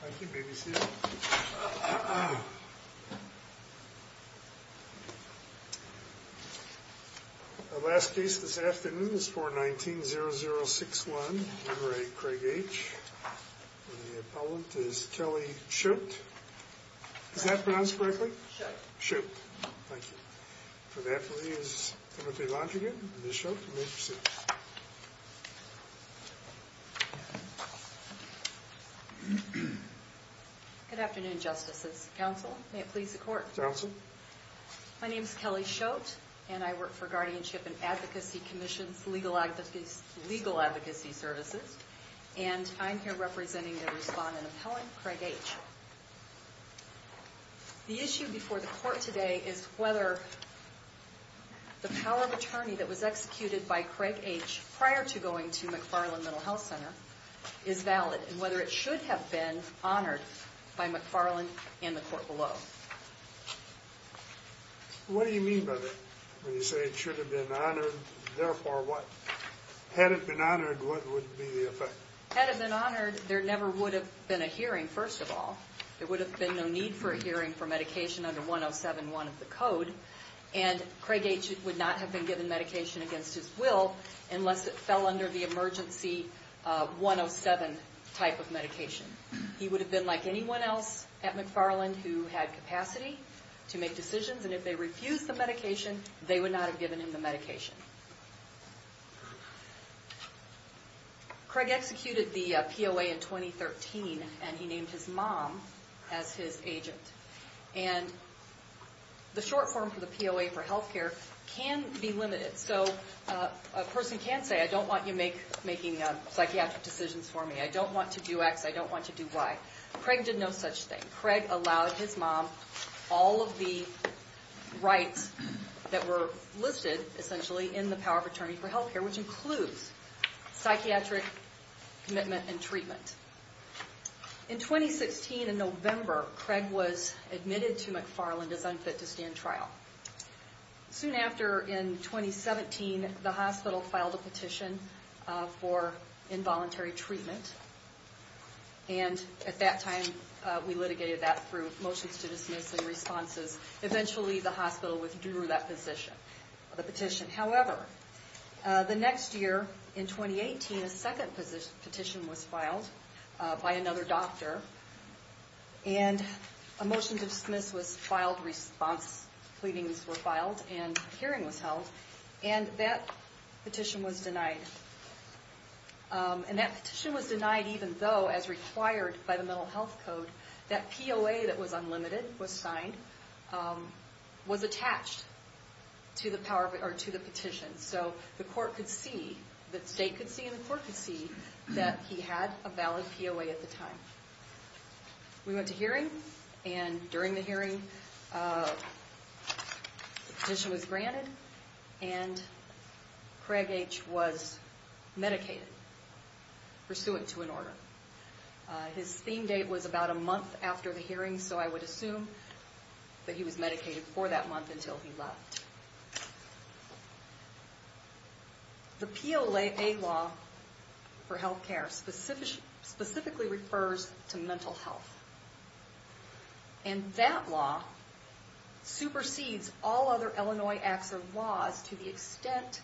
Thank you, BBC The last case this afternoon is 419-0061 Henry Craig H, and the appellant is Kelly Schulte. Is that pronounced correctly? Schulte. Schulte. Thank you. For that, please, Timothy Langergan and Ms. Schulte, you may proceed. Good afternoon, Justices. Counsel, may it please the Court? Counsel. My name is Kelly Schulte, and I work for Guardianship and Advocacy Commission's Legal Advocacy Services, and I'm here representing the respondent appellant, Craig H. The issue before the Court today is whether the power of attorney that was executed by Craig H. prior to going to McFarland Mental Health Center is valid, and whether it should have been honored by McFarland and the Court below. What do you mean by that? When you say it should have been honored, therefore what? Had it been honored, what would be the effect? Had it been honored, there never would have been a hearing, first of all. There would have been no need for a hearing for medication under 107.1 of the Code, and Craig H. would not have been given medication against his will unless it fell under the emergency 107 type of medication. He would have been like anyone else at McFarland who had capacity to make decisions, and if they refused the medication, they would not have given him the medication. Craig executed the POA in 2013, and he named his mom as his agent, and the short form for the POA for health care can be limited, so a person can say, I don't want you making psychiatric decisions for me, I don't want to do X, I don't want to do Y. Craig did no such thing. Craig allowed his mom all of the rights that were listed, essentially, in the power of attorney for health care, which includes psychiatric commitment and treatment. In 2016, in November, Craig was admitted to McFarland as unfit to stand trial. Soon after, in 2017, the hospital filed a petition for involuntary treatment, and at that time we litigated that through motions to dismiss and responses. Eventually, the hospital withdrew that petition. However, the next year, in 2018, a second petition was filed by another doctor, and a motion to dismiss was filed, response pleadings were filed, and a hearing was held, and that petition was denied. And that petition was denied even though, as required by the mental health code, that POA that was unlimited was signed, was attached to the petition, so the court could see, the state could see, and the court could see that he had a valid POA at the time. We went to hearing, and during the hearing, the petition was granted, and Craig H. was medicated, pursuant to an order. His theme date was about a month after the hearing, so I would assume that he was medicated for that month until he left. The POA law for health care specifically refers to mental health, and that law supersedes all other Illinois acts of laws to the extent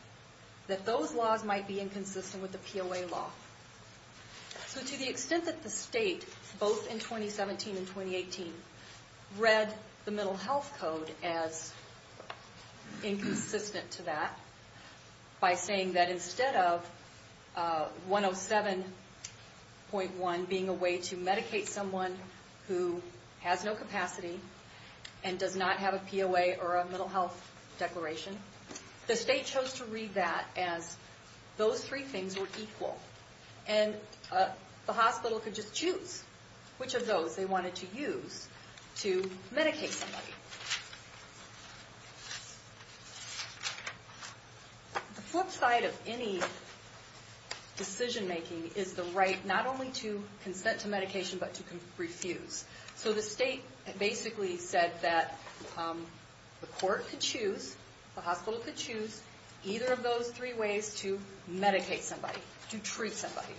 that those laws might be inconsistent with the POA law. So to the extent that the state, both in 2017 and 2018, read the mental health code as inconsistent to that, by saying that instead of 107.1 being a way to medicate someone who has no capacity and does not have a POA or a mental health declaration, the state chose to read that as those three things were equal. And the hospital could just choose which of those they wanted to use to medicate somebody. The flip side of any decision making is the right not only to consent to medication, but to refuse. So the state basically said that the court could choose, the hospital could choose, either of those three ways to medicate somebody, to treat somebody.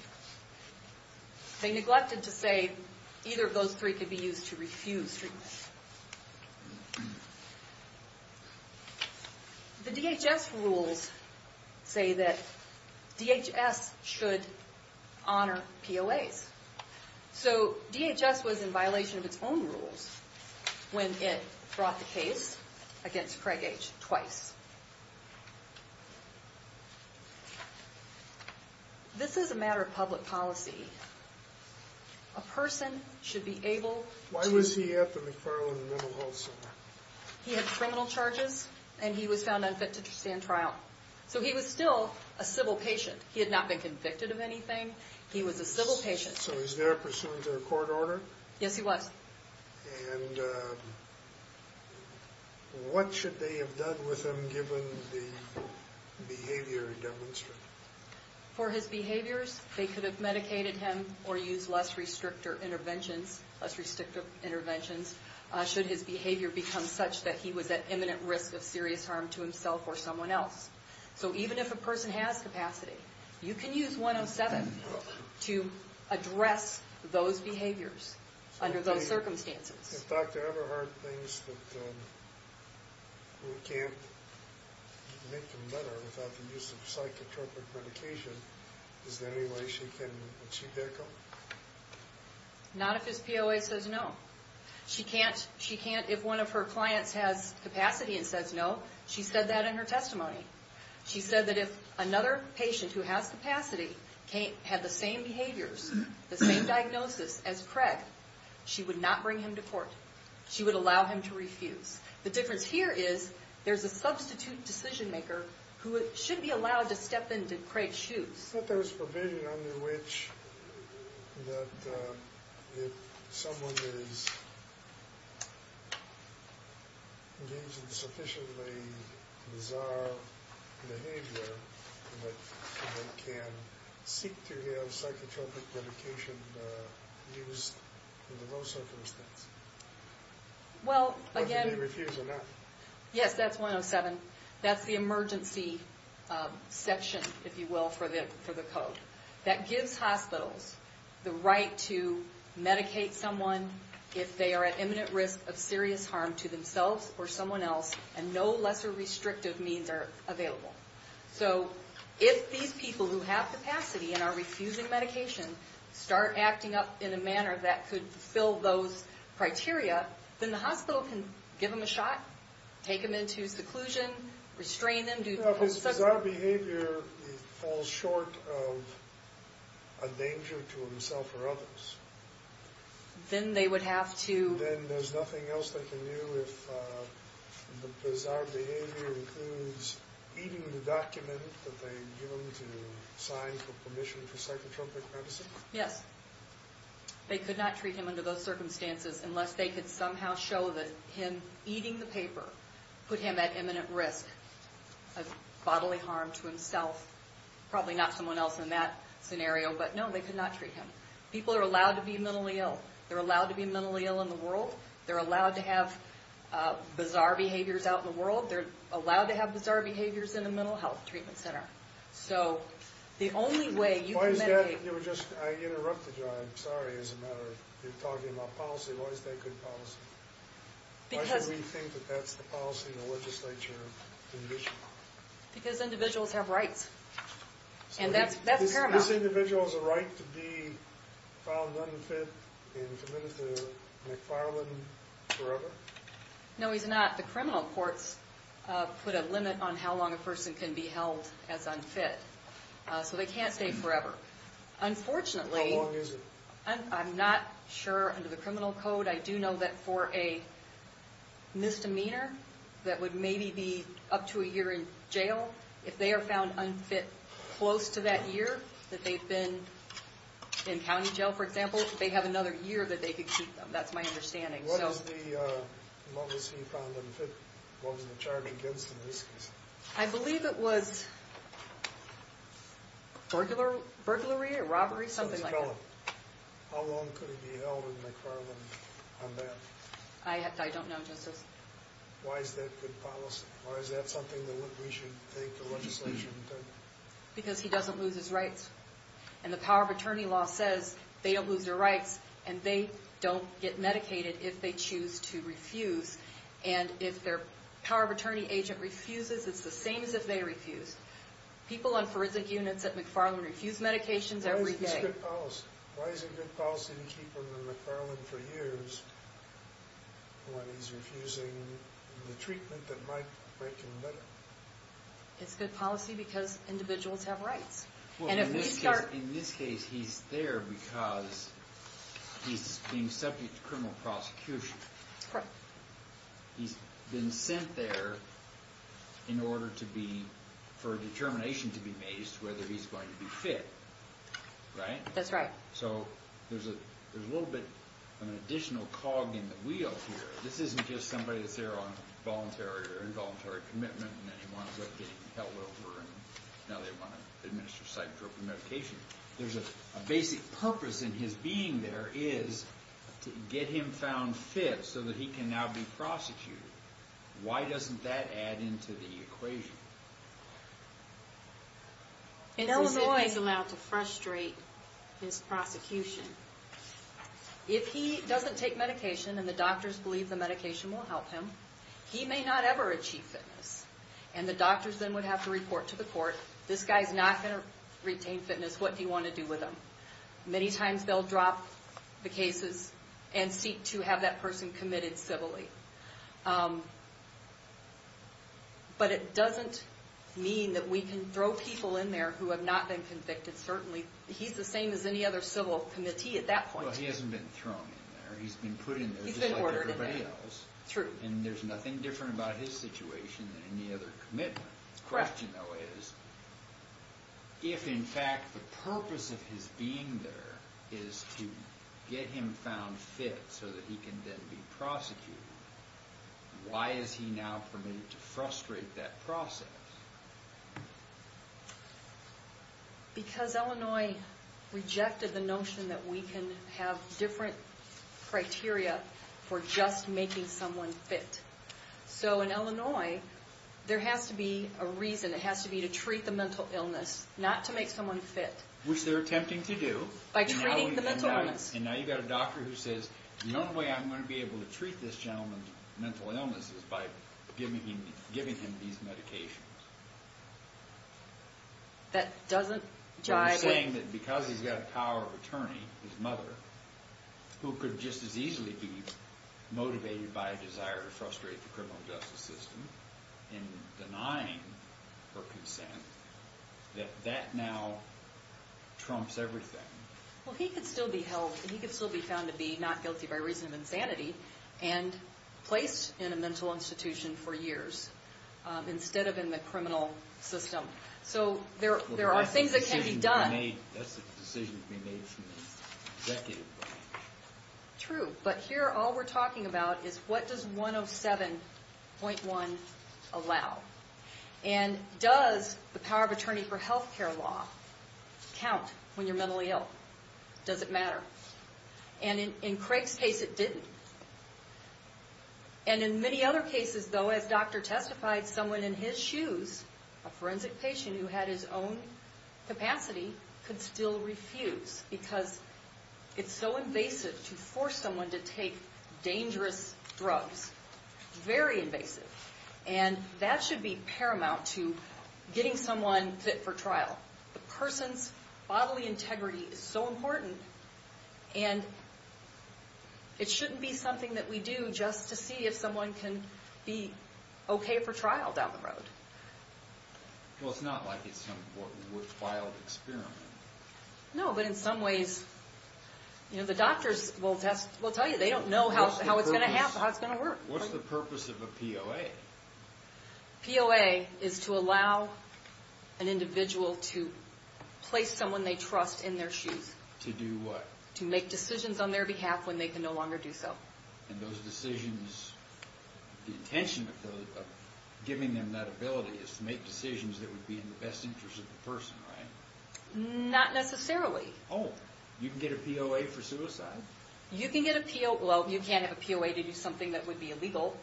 They neglected to say either of those three could be used to refuse treatment. The DHS rules say that DHS should honor POAs. So DHS was in violation of its own rules when it brought the case against Craig H. twice. This is a matter of public policy. A person should be able to... Why was he at the McFarland Mental Health Center? He had criminal charges, and he was found unfit to stand trial. So he was still a civil patient. He had not been convicted of anything. He was a civil patient. So he was there pursuant to a court order? Yes, he was. And what should they have done with him given the behavior he demonstrated? For his behaviors, they could have medicated him or used less restrictive interventions should his behavior become such that he was at imminent risk of serious harm to himself or someone else. So even if a person has capacity, you can use 107 to address those behaviors under those circumstances. If Dr. Everhart thinks that we can't make him better without the use of psychotropic medication, is there any way she can achieve that goal? Not if his POA says no. If one of her clients has capacity and says no, she said that in her testimony. She said that if another patient who has capacity had the same behaviors, the same diagnosis as Craig, she would not bring him to court. She would allow him to refuse. The difference here is there's a substitute decision maker who should be allowed to step into Craig's shoes. I thought there was provision under which if someone is engaged in sufficiently bizarre behavior, that they can seek to have psychotropic medication used under those circumstances. Well, again... Whether they refuse or not. Yes, that's 107. That's the emergency section, if you will, for the code. That gives hospitals the right to medicate someone if they are at imminent risk of serious harm to themselves or someone else, and no lesser restrictive means are available. So if these people who have capacity and are refusing medication start acting up in a manner that could fulfill those criteria, then the hospital can give them a shot, take them into seclusion, restrain them. If his bizarre behavior falls short of a danger to himself or others... Then they would have to... Then there's nothing else they can do if the bizarre behavior includes eating the document that they give him to sign for permission for psychotropic medicine? Yes. They could not treat him under those circumstances unless they could somehow show that him eating the paper put him at imminent risk of bodily harm to himself. Probably not someone else in that scenario, but no, they could not treat him. People are allowed to be mentally ill. They're allowed to be mentally ill in the world. They're allowed to have bizarre behaviors out in the world. They're allowed to have bizarre behaviors in a mental health treatment center. So the only way you can medicate... You were just... I interrupted you. I'm sorry. As a matter of... You're talking about policy. Why is that good policy? Because... Why should we think that that's the policy of the legislature? Because individuals have rights. And that's paramount. So this individual has a right to be found unfit and committed to McFarland forever? No, he's not. The criminal courts put a limit on how long a person can be held as unfit. So they can't stay forever. Unfortunately... How long is it? I'm not sure under the criminal code. I do know that for a misdemeanor that would maybe be up to a year in jail, if they are found unfit close to that year that they've been in county jail, for example, they have another year that they could keep them. That's my understanding. What is the... What was he found unfit? What was the charge against him in this case? I believe it was burglary or robbery, something like that. How long could he be held in McFarland on that? I don't know, Justice. Why is that good policy? Why is that something that we should take the legislature into account? Because he doesn't lose his rights. And the power of attorney law says they don't lose their rights and they don't get medicated if they choose to refuse. And if their power of attorney agent refuses, it's the same as if they refused. People on forensic units at McFarland refuse medications every day. Why is this good policy? Why is it good policy to keep him in McFarland for years when he's refusing the treatment that might make him better? It's good policy because individuals have rights. In this case, he's there because he's being subject to criminal prosecution. Correct. He's been sent there in order for a determination to be made as to whether he's going to be fit, right? That's right. So there's a little bit of an additional cog in the wheel here. This isn't just somebody that's there on voluntary or involuntary commitment and then he winds up getting held over and now they want to administer psych-appropriate medication. There's a basic purpose in his being there is to get him found fit so that he can now be prosecuted. Why doesn't that add into the equation? It's as if he's allowed to frustrate his prosecution. If he doesn't take medication and the doctors believe the medication will help him, he may not ever achieve fitness and the doctors then would have to report to the court, this guy's not going to retain fitness. What do you want to do with him? Many times they'll drop the cases and seek to have that person committed civilly. But it doesn't mean that we can throw people in there who have not been convicted. Certainly he's the same as any other civil committee at that point. Well, he hasn't been thrown in there. He's been put in there just like everybody else. True. And there's nothing different about his situation than any other commitment. My question though is, if in fact the purpose of his being there is to get him found fit so that he can then be prosecuted, why is he now permitted to frustrate that process? Because Illinois rejected the notion that we can have different criteria for just making someone fit. So in Illinois, there has to be a reason. It has to be to treat the mental illness, not to make someone fit. Which they're attempting to do. By treating the mental illness. And now you've got a doctor who says, the only way I'm going to be able to treat this gentleman's mental illness is by giving him these medications. That doesn't jive with... I'm saying that because he's got a power of attorney, his mother, who could just as easily be motivated by a desire to frustrate the criminal justice system in denying her consent, that that now trumps everything. Well, he could still be held, he could still be found to be not guilty by reason of insanity and placed in a mental institution for years instead of in the criminal system. So there are things that can be done. That's a decision to be made from an executive point of view. True. But here, all we're talking about is, what does 107.1 allow? And does the power of attorney for health care law count when you're mentally ill? Does it matter? And in Craig's case, it didn't. And in many other cases, though, as doctor testified, someone in his shoes, a forensic patient who had his own capacity, could still refuse because it's so invasive to force someone to take dangerous drugs. Very invasive. And that should be paramount to getting someone fit for trial. The person's bodily integrity is so important, and it shouldn't be something that we do just to see if someone can be okay for trial down the road. Well, it's not like it's some worthwhile experiment. No, but in some ways, the doctors will tell you they don't know how it's going to work. What's the purpose of a POA? POA is to allow an individual to place someone they trust in their shoes. To do what? To make decisions on their behalf when they can no longer do so. And those decisions, the intention of giving them that ability is to make decisions that would be in the best interest of the person, right? Not necessarily. Oh, you can get a POA for suicide. You can get a POA. Well, you can't have a POA to do something that would be illegal,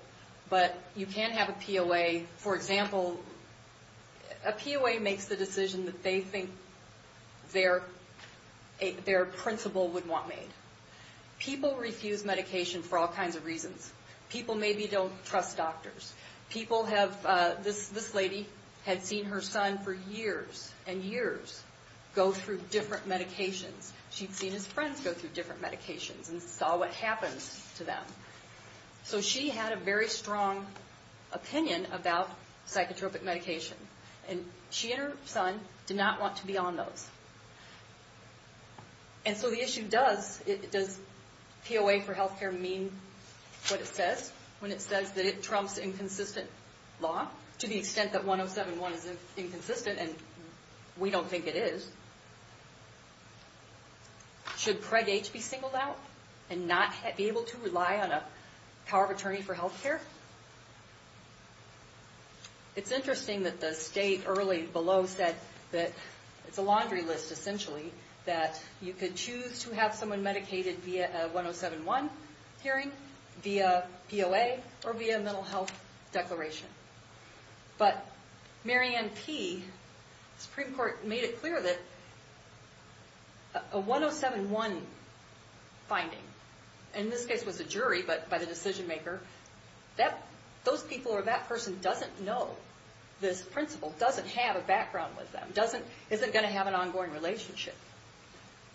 but you can have a POA. For example, a POA makes the decision that they think their principal would want made. People refuse medication for all kinds of reasons. People maybe don't trust doctors. People have... This lady had seen her son for years and years go through different medications. She'd seen his friends go through different medications and saw what happens to them. So she had a very strong opinion about psychotropic medication, and she and her son did not want to be on those. And so the issue does, does POA for health care mean what it says when it says that it trumps inconsistent law to the extent that 107.1 is inconsistent, and we don't think it is? Should PREG-H be singled out and not be able to rely on a power of attorney for health care? It's interesting that the state early below said that it's a laundry list, essentially, that you could choose to have someone medicated via a 107.1 hearing, via POA, or via a mental health declaration. But Marianne P., the Supreme Court made it clear that a 107.1 finding, and this case was a jury, but by the decision-maker, those people or that person doesn't know, this principal doesn't have a background with them, isn't going to have an ongoing relationship.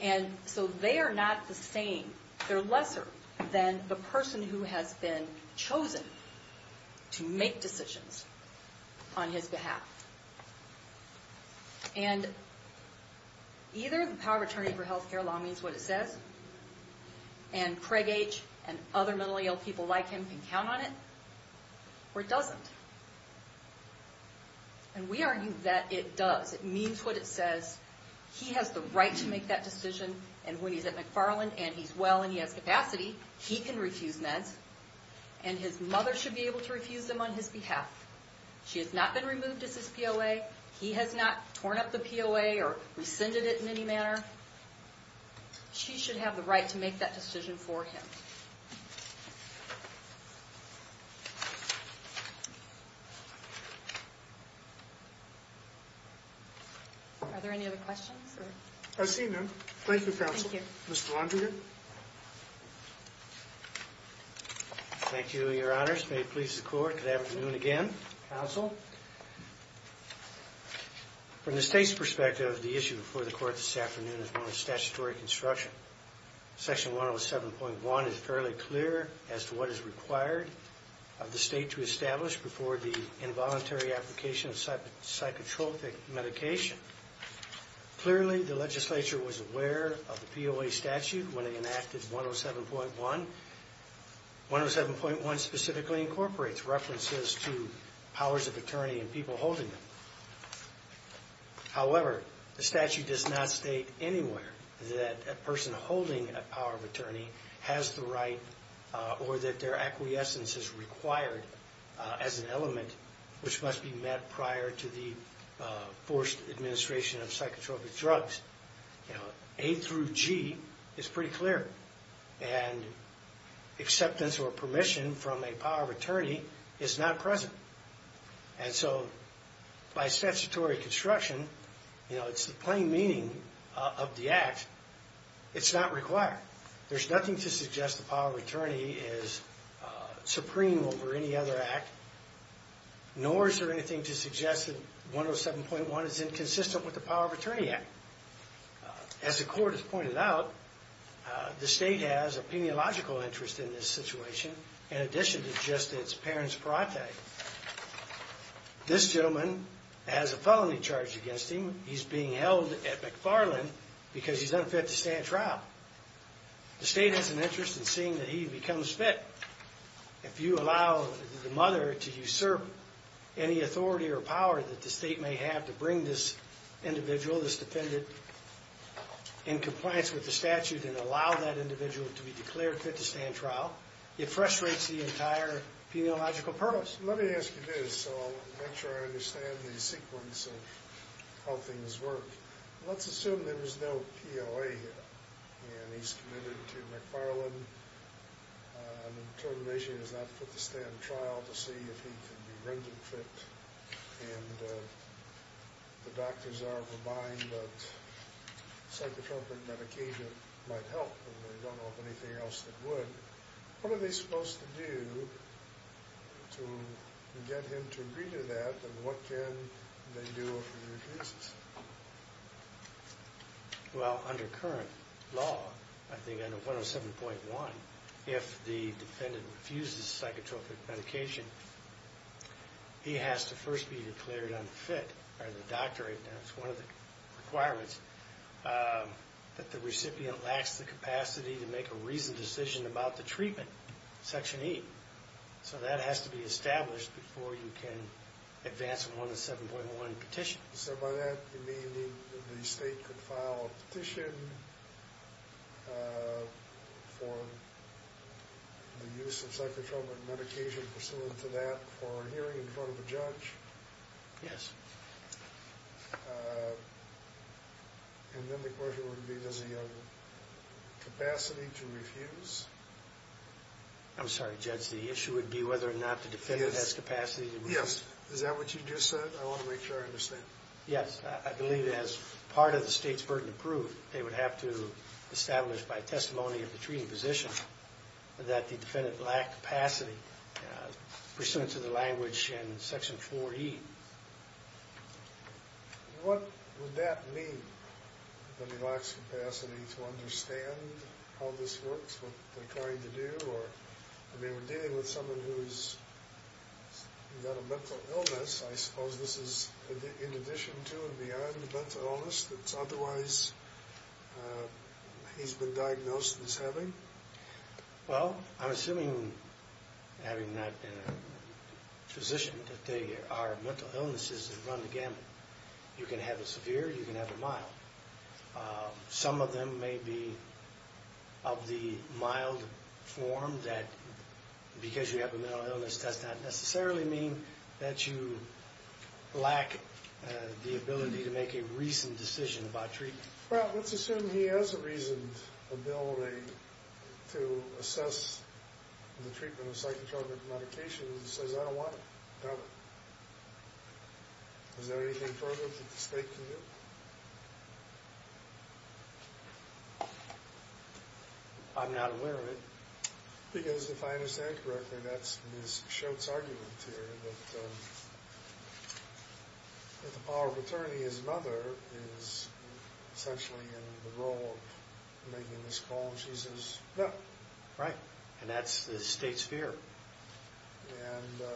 And so they are not the same, they're lesser than the person who has been chosen to make decisions on his behalf. And either the power of attorney for health care law means what it says, and PREG-H and other mentally ill people like him can count on it, or it doesn't. And we argue that it does. It means what it says. He has the right to make that decision, and when he's at McFarland and he's well and he has capacity, he can refuse meds, and his mother should be able to refuse them on his behalf. She has not been removed as his POA, he has not torn up the POA or rescinded it in any manner. She should have the right to make that decision for him. Thank you. Are there any other questions? I see none. Thank you, counsel. Thank you. Mr. Landrigan. Thank you, your honors. May it please the court. Good afternoon again, counsel. From the state's perspective, the issue before the court this afternoon is known as statutory construction. Section 107.1 is fairly clear as to what is required of the state to establish before the involuntary application of psychotropic medication. Clearly, the legislature was aware of the POA statute when it enacted 107.1. 107.1 specifically incorporates references to powers of attorney and people holding them. However, the statute does not state anywhere that a person holding a power of attorney has the right or that their acquiescence is required as an element which must be met prior to the forced administration of psychotropic drugs. A through G is pretty clear. Acceptance or permission from a power of attorney is not present. By statutory construction, it's the plain meaning of the act. It's not required. There's nothing to suggest the power of attorney is supreme over any other act, nor is there anything to suggest that 107.1 is inconsistent with the power of attorney act. As the court has pointed out, the state has a peniological interest in this situation in addition to just its parents' parathe. This gentleman has a felony charged against him. He's being held at McFarland because he's unfit to stand trial. The state has an interest in seeing that he becomes fit. If you allow the mother to usurp any authority or power that the state may have to bring this individual, this defendant, in compliance with the statute and allow that individual to be declared fit to stand trial, it frustrates the entire peniological purpose. Let me ask you this, so I'll make sure I understand the sequence of how things work. Let's assume there is no POA here, and he's committed to McFarland. The determination is not fit to stand trial to see if he can be rendered fit, and the doctors are buying, but psychotropic medication might help, and they don't know of anything else that would. What are they supposed to do to get him to redo that, and what can they do if he refuses? Well, under current law, I think under 107.1, if the defendant refuses psychotropic medication, he has to first be declared unfit, or the doctor, and that's one of the requirements, that the recipient lacks the capacity to make a reasoned decision about the treatment, Section 8. So that has to be established before you can advance a 107.1 petition. So by that, you mean the state could file a petition for the use of psychotropic medication pursuant to that for a hearing in front of a judge? Yes. And then the question would be, does he have capacity to refuse? I'm sorry, Judge, the issue would be whether or not the defendant has capacity to refuse. Yes, is that what you just said? I want to make sure I understand. Yes, I believe as part of the state's burden of proof, they would have to establish by testimony of the treating physician that the defendant lacked capacity pursuant to the language in Section 4E. What would that mean, that he lacks capacity to understand how this works, what they're trying to do? I mean, we're dealing with someone who's got a mental illness, I suppose this is in addition to and beyond the mental illness that's otherwise he's been diagnosed as having? Well, I'm assuming, having not been a physician, that there are mental illnesses that run the gamut. You can have a severe, you can have a mild. Some of them may be of the mild form that because you have a mental illness that does not necessarily mean that you lack the ability to make a reasoned decision about treatment. Well, let's assume he has a reasoned ability to assess the treatment of psychotropic medications and says, I don't want it, I don't. Is there anything further that the state can do? I'm not aware of it. Because if I understand correctly, that's Ms. Schultz's argument here, that the power of attorney as another is essentially in the role of making this call, and she says, no. Right, and that's the state's fear. And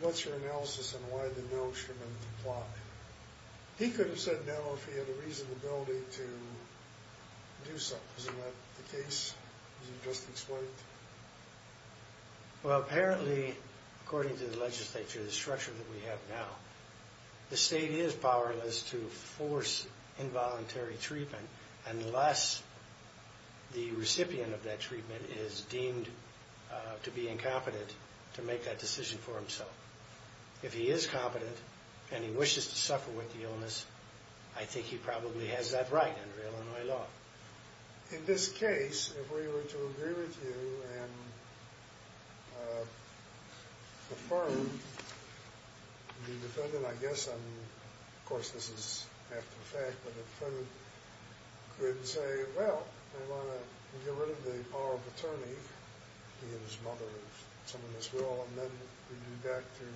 what's your analysis on why the no instrument plot? He could have said no if he had a reasoned ability to do something. Isn't that the case, as you just explained? Well, apparently, according to the legislature, the structure that we have now, the state is powerless to force involuntary treatment unless the recipient of that treatment is deemed to be incompetent to make that decision for himself. If he is competent and he wishes to suffer with the illness, I think he probably has that right under Illinois law. In this case, if we were to agree with you and confirm the defendant, I guess, and of course this is after the fact, but the defendant could say, well, we want to get rid of the power of attorney, he and his mother, some of this will, and then we do that through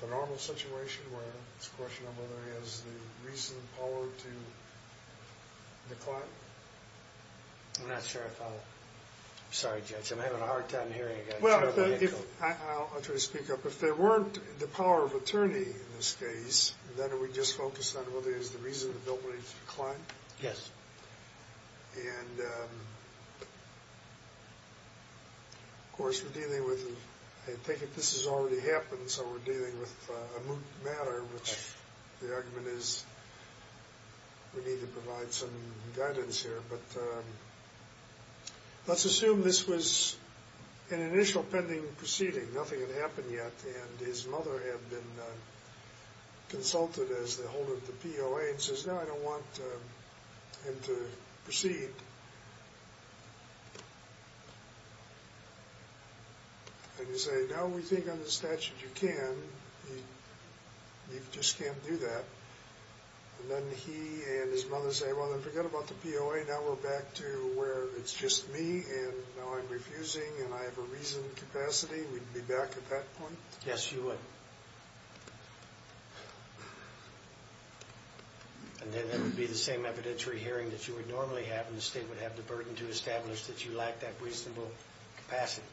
the normal situation where it's a question of whether he has the reasoned power to decline. I'm not sure if I'll... I'm sorry, Judge, I'm having a hard time hearing you. Well, I'll try to speak up. If there weren't the power of attorney in this case, then are we just focused on whether he has the reasoned ability to decline? Yes. And, of course, we're dealing with... I take it this has already happened, so we're dealing with a moot matter, which the argument is we need to provide some guidance here, but let's assume this was an initial pending proceeding, nothing had happened yet, and his mother had been consulted as the holder of the POA and says, no, I don't want him to proceed. And you say, no, we think under the statute you can, you just can't do that, and then he and his mother say, well, then forget about the POA, now we're back to where it's just me, and now I'm refusing and I have a reasoned capacity, we'd be back at that point? Yes, you would. And then that would be the same evidentiary hearing that you would normally have in the statute, where they would have the burden to establish that you lack that reasonable capacity.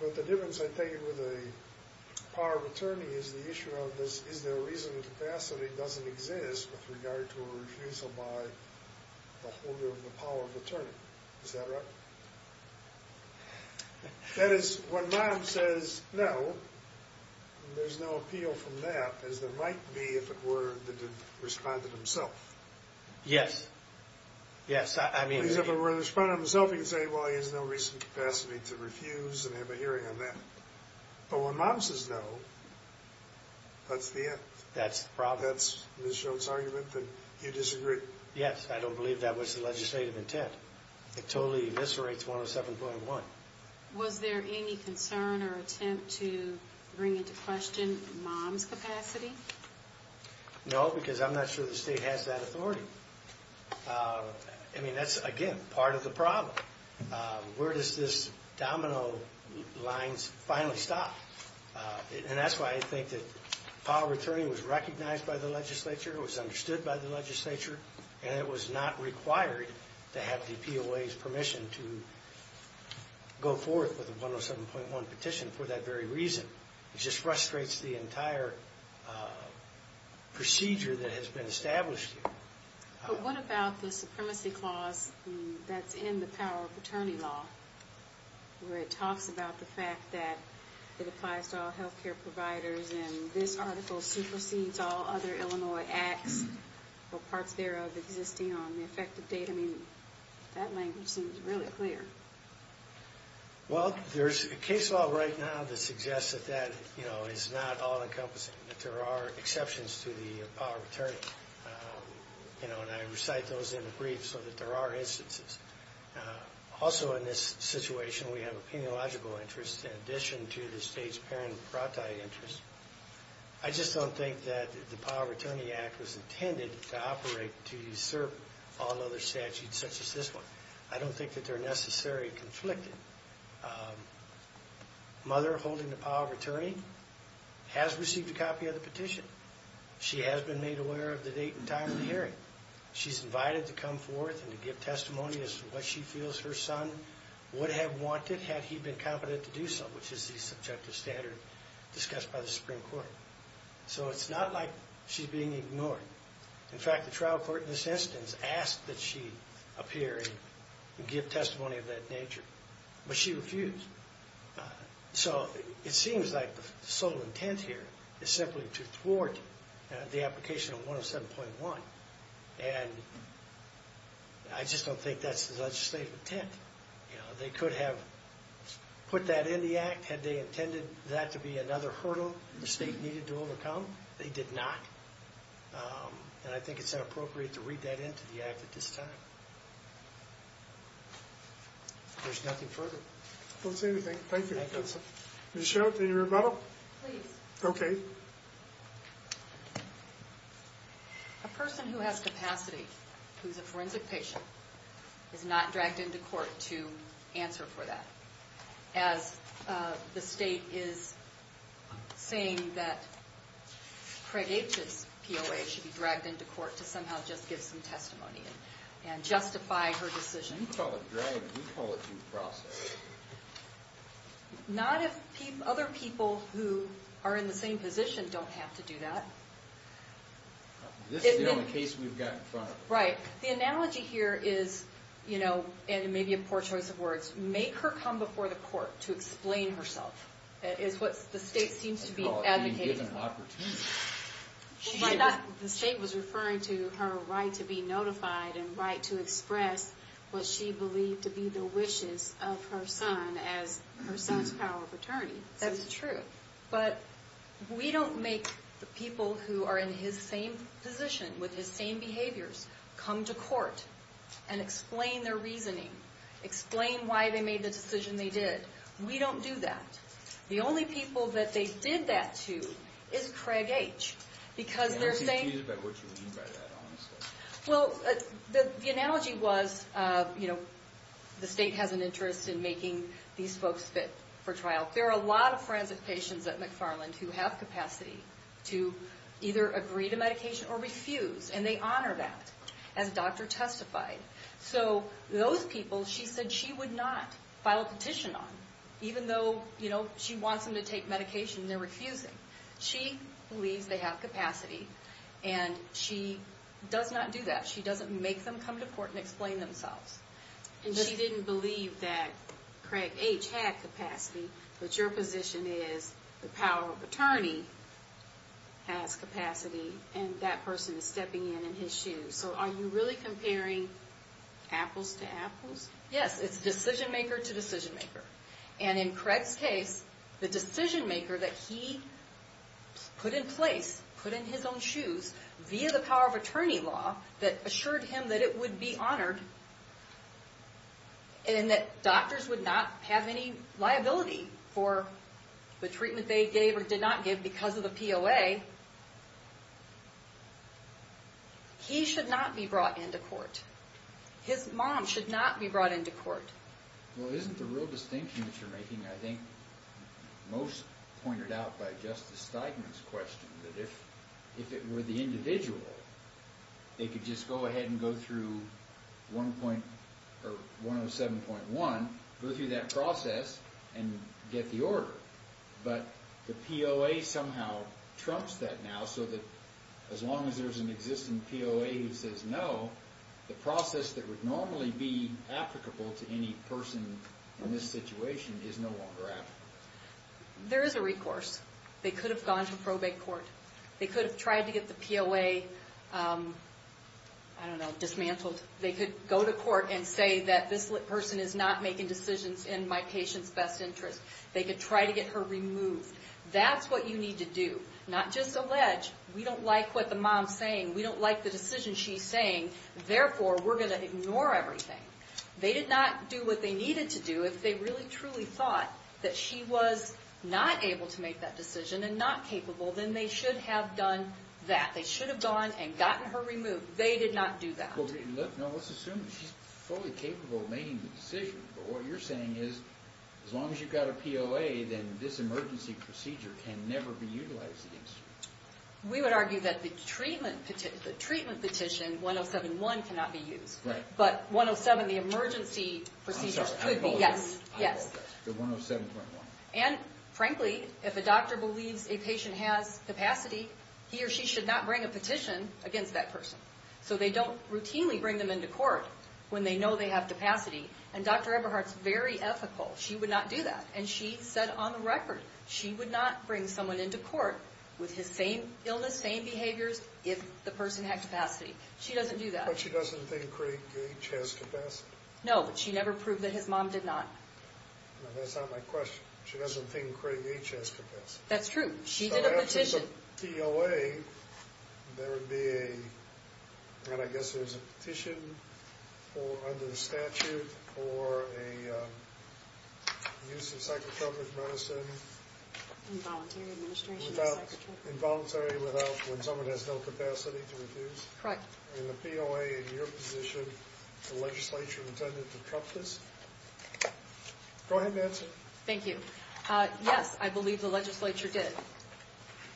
But the difference, I take it, with a power of attorney is the issue of is there a reason the capacity doesn't exist with regard to a refusal by the holder of the power of attorney. Is that right? That is, when Mom says no, there's no appeal from that, as there might be if it were that it responded himself. Yes, yes, I mean... If it were to respond himself, he could say, well, he has no reasoned capacity to refuse and have a hearing on that. But when Mom says no, that's the end. That's the problem. That's Ms. Jones' argument that you disagree. Yes, I don't believe that was the legislative intent. It totally eviscerates 107.1. Was there any concern or attempt to bring into question Mom's capacity? No, because I'm not sure the state has that authority. I mean, that's, again, part of the problem. Where does this domino line finally stop? And that's why I think that power of attorney was recognized by the legislature, it was understood by the legislature, and it was not required to have the POA's permission to go forth with a 107.1 petition for that very reason. It just frustrates the entire procedure that has been established here. But what about the supremacy clause that's in the power of attorney law, where it talks about the fact that it applies to all health care providers and this article supersedes all other Illinois acts or parts thereof existing on the effective date? I mean, that language seems really clear. Well, there's a case law right now that suggests that that is not all-encompassing, that there are exceptions to the power of attorney, and I recite those in the brief so that there are instances. Also in this situation, we have a peniological interest in addition to the state's paren prati interest. I just don't think that the power of attorney act was intended to operate to usurp all other statutes such as this one. I don't think that they're necessarily conflicted. Mother holding the power of attorney has received a copy of the petition. She has been made aware of the date and time of the hearing. She's invited to come forth and to give testimony as to what she feels her son would have wanted had he been competent to do so, which is the subjective standard discussed by the Supreme Court. So it's not like she's being ignored. In fact, the trial court in this instance asked that she appear and give testimony of that nature, but she refused. So it seems like the sole intent here is simply to thwart the application of 107.1, and I just don't think that's the legislative intent. They could have put that in the act had they intended that to be another hurdle the state needed to overcome. They did not. And I think it's inappropriate to read that into the act at this time. There's nothing further. I don't see anything. Thank you, counsel. Ms. Sherwood, do you need a rebuttal? Please. Okay. A person who has capacity, who's a forensic patient, is not dragged into court to answer for that. As the state is saying that Craig H's POA should be dragged into court to somehow just give some testimony and justify her decision. You call it dragged. We call it due process. Not if other people who are in the same position don't have to do that. This is the only case we've got in front of us. Right. The analogy here is, and it may be a poor choice of words, make her come before the court to explain herself. That is what the state seems to be advocating. And give an opportunity. The state was referring to her right to be notified and right to express what she believed to be the wishes of her son as her son's power of attorney. That is true. But we don't make the people who are in his same position, with his same behaviors, come to court and explain their reasoning, explain why they made the decision they did. We don't do that. The only people that they did that to is Craig H. Because they're saying... I'm confused about what you mean by that, honestly. Well, the analogy was, you know, the state has an interest in making these folks fit for trial. There are a lot of forensic patients at McFarland who have capacity to either agree to medication or refuse. And they honor that, as the doctor testified. So those people she said she would not file a petition on, even though she wants them to take medication and they're refusing. She believes they have capacity, and she does not do that. She doesn't make them come to court and explain themselves. And she didn't believe that Craig H. had capacity, but your position is the power of attorney has capacity, and that person is stepping in in his shoes. So are you really comparing apples to apples? Yes, it's decision-maker to decision-maker. And in Craig's case, the decision-maker that he put in place, put in his own shoes via the power of attorney law that assured him that it would be honored and that doctors would not have any liability for the treatment they gave or did not give because of the POA, he should not be brought into court. His mom should not be brought into court. Well, isn't the real distinction that you're making, I think, most pointed out by Justice Steigman's question, that if it were the individual, they could just go ahead and go through 107.1, go through that process, and get the order. But the POA somehow trumps that now, so that as long as there's an existing POA who says no, the process that would normally be applicable to any person in this situation is no longer applicable. There is a recourse. They could have gone to probate court. They could have tried to get the POA, I don't know, dismantled. They could go to court and say that this person is not making decisions in my patient's best interest. They could try to get her removed. That's what you need to do, not just allege. We don't like what the mom's saying. We don't like the decision she's saying. Therefore, we're going to ignore everything. They did not do what they needed to do. If they really truly thought that she was not able to make that decision and not capable, then they should have done that. They should have gone and gotten her removed. They did not do that. Let's assume she's fully capable of making the decision. What you're saying is, as long as you've got a POA, then this emergency procedure can never be utilized against you. We would argue that the treatment petition, 107.1, cannot be used. But 107, the emergency procedure, could be. I'm sorry, I'm both. Yes. The 107.1. Frankly, if a doctor believes a patient has capacity, he or she should not bring a petition against that person. They don't routinely bring them into court when they know they have capacity. And Dr. Eberhardt's very ethical. She would not do that. And she said on the record she would not bring someone into court with his same illness, same behaviors, if the person had capacity. She doesn't do that. But she doesn't think Craig Gage has capacity. No, but she never proved that his mom did not. That's not my question. She doesn't think Craig Gage has capacity. That's true. She did a petition. In the POA, there would be a, I guess there's a petition under the statute for a use of psychotropic medicine. Involuntary administration of psychotropic medicine. Involuntary, when someone has no capacity to refuse. Correct. In the POA, in your position, the legislature intended to cut this? Go ahead, Nancy. Thank you. Yes, I believe the legislature did.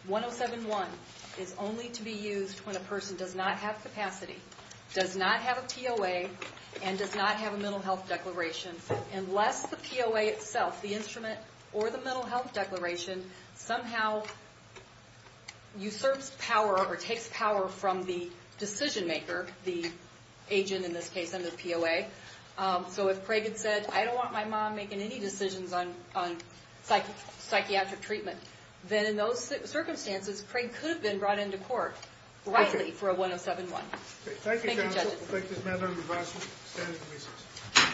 107.1 is only to be used when a person does not have capacity, does not have a POA, and does not have a mental health declaration. Unless the POA itself, the instrument or the mental health declaration, somehow usurps power or takes power from the decision maker, the agent in this case under the POA. So if Craig had said, I don't want my mom making any decisions on psychiatric treatment, then in those circumstances, Craig could have been brought into court, rightly, for a 107.1. Thank you, counsel. Thank you, judges. We'll take this matter under review. Stand at ease.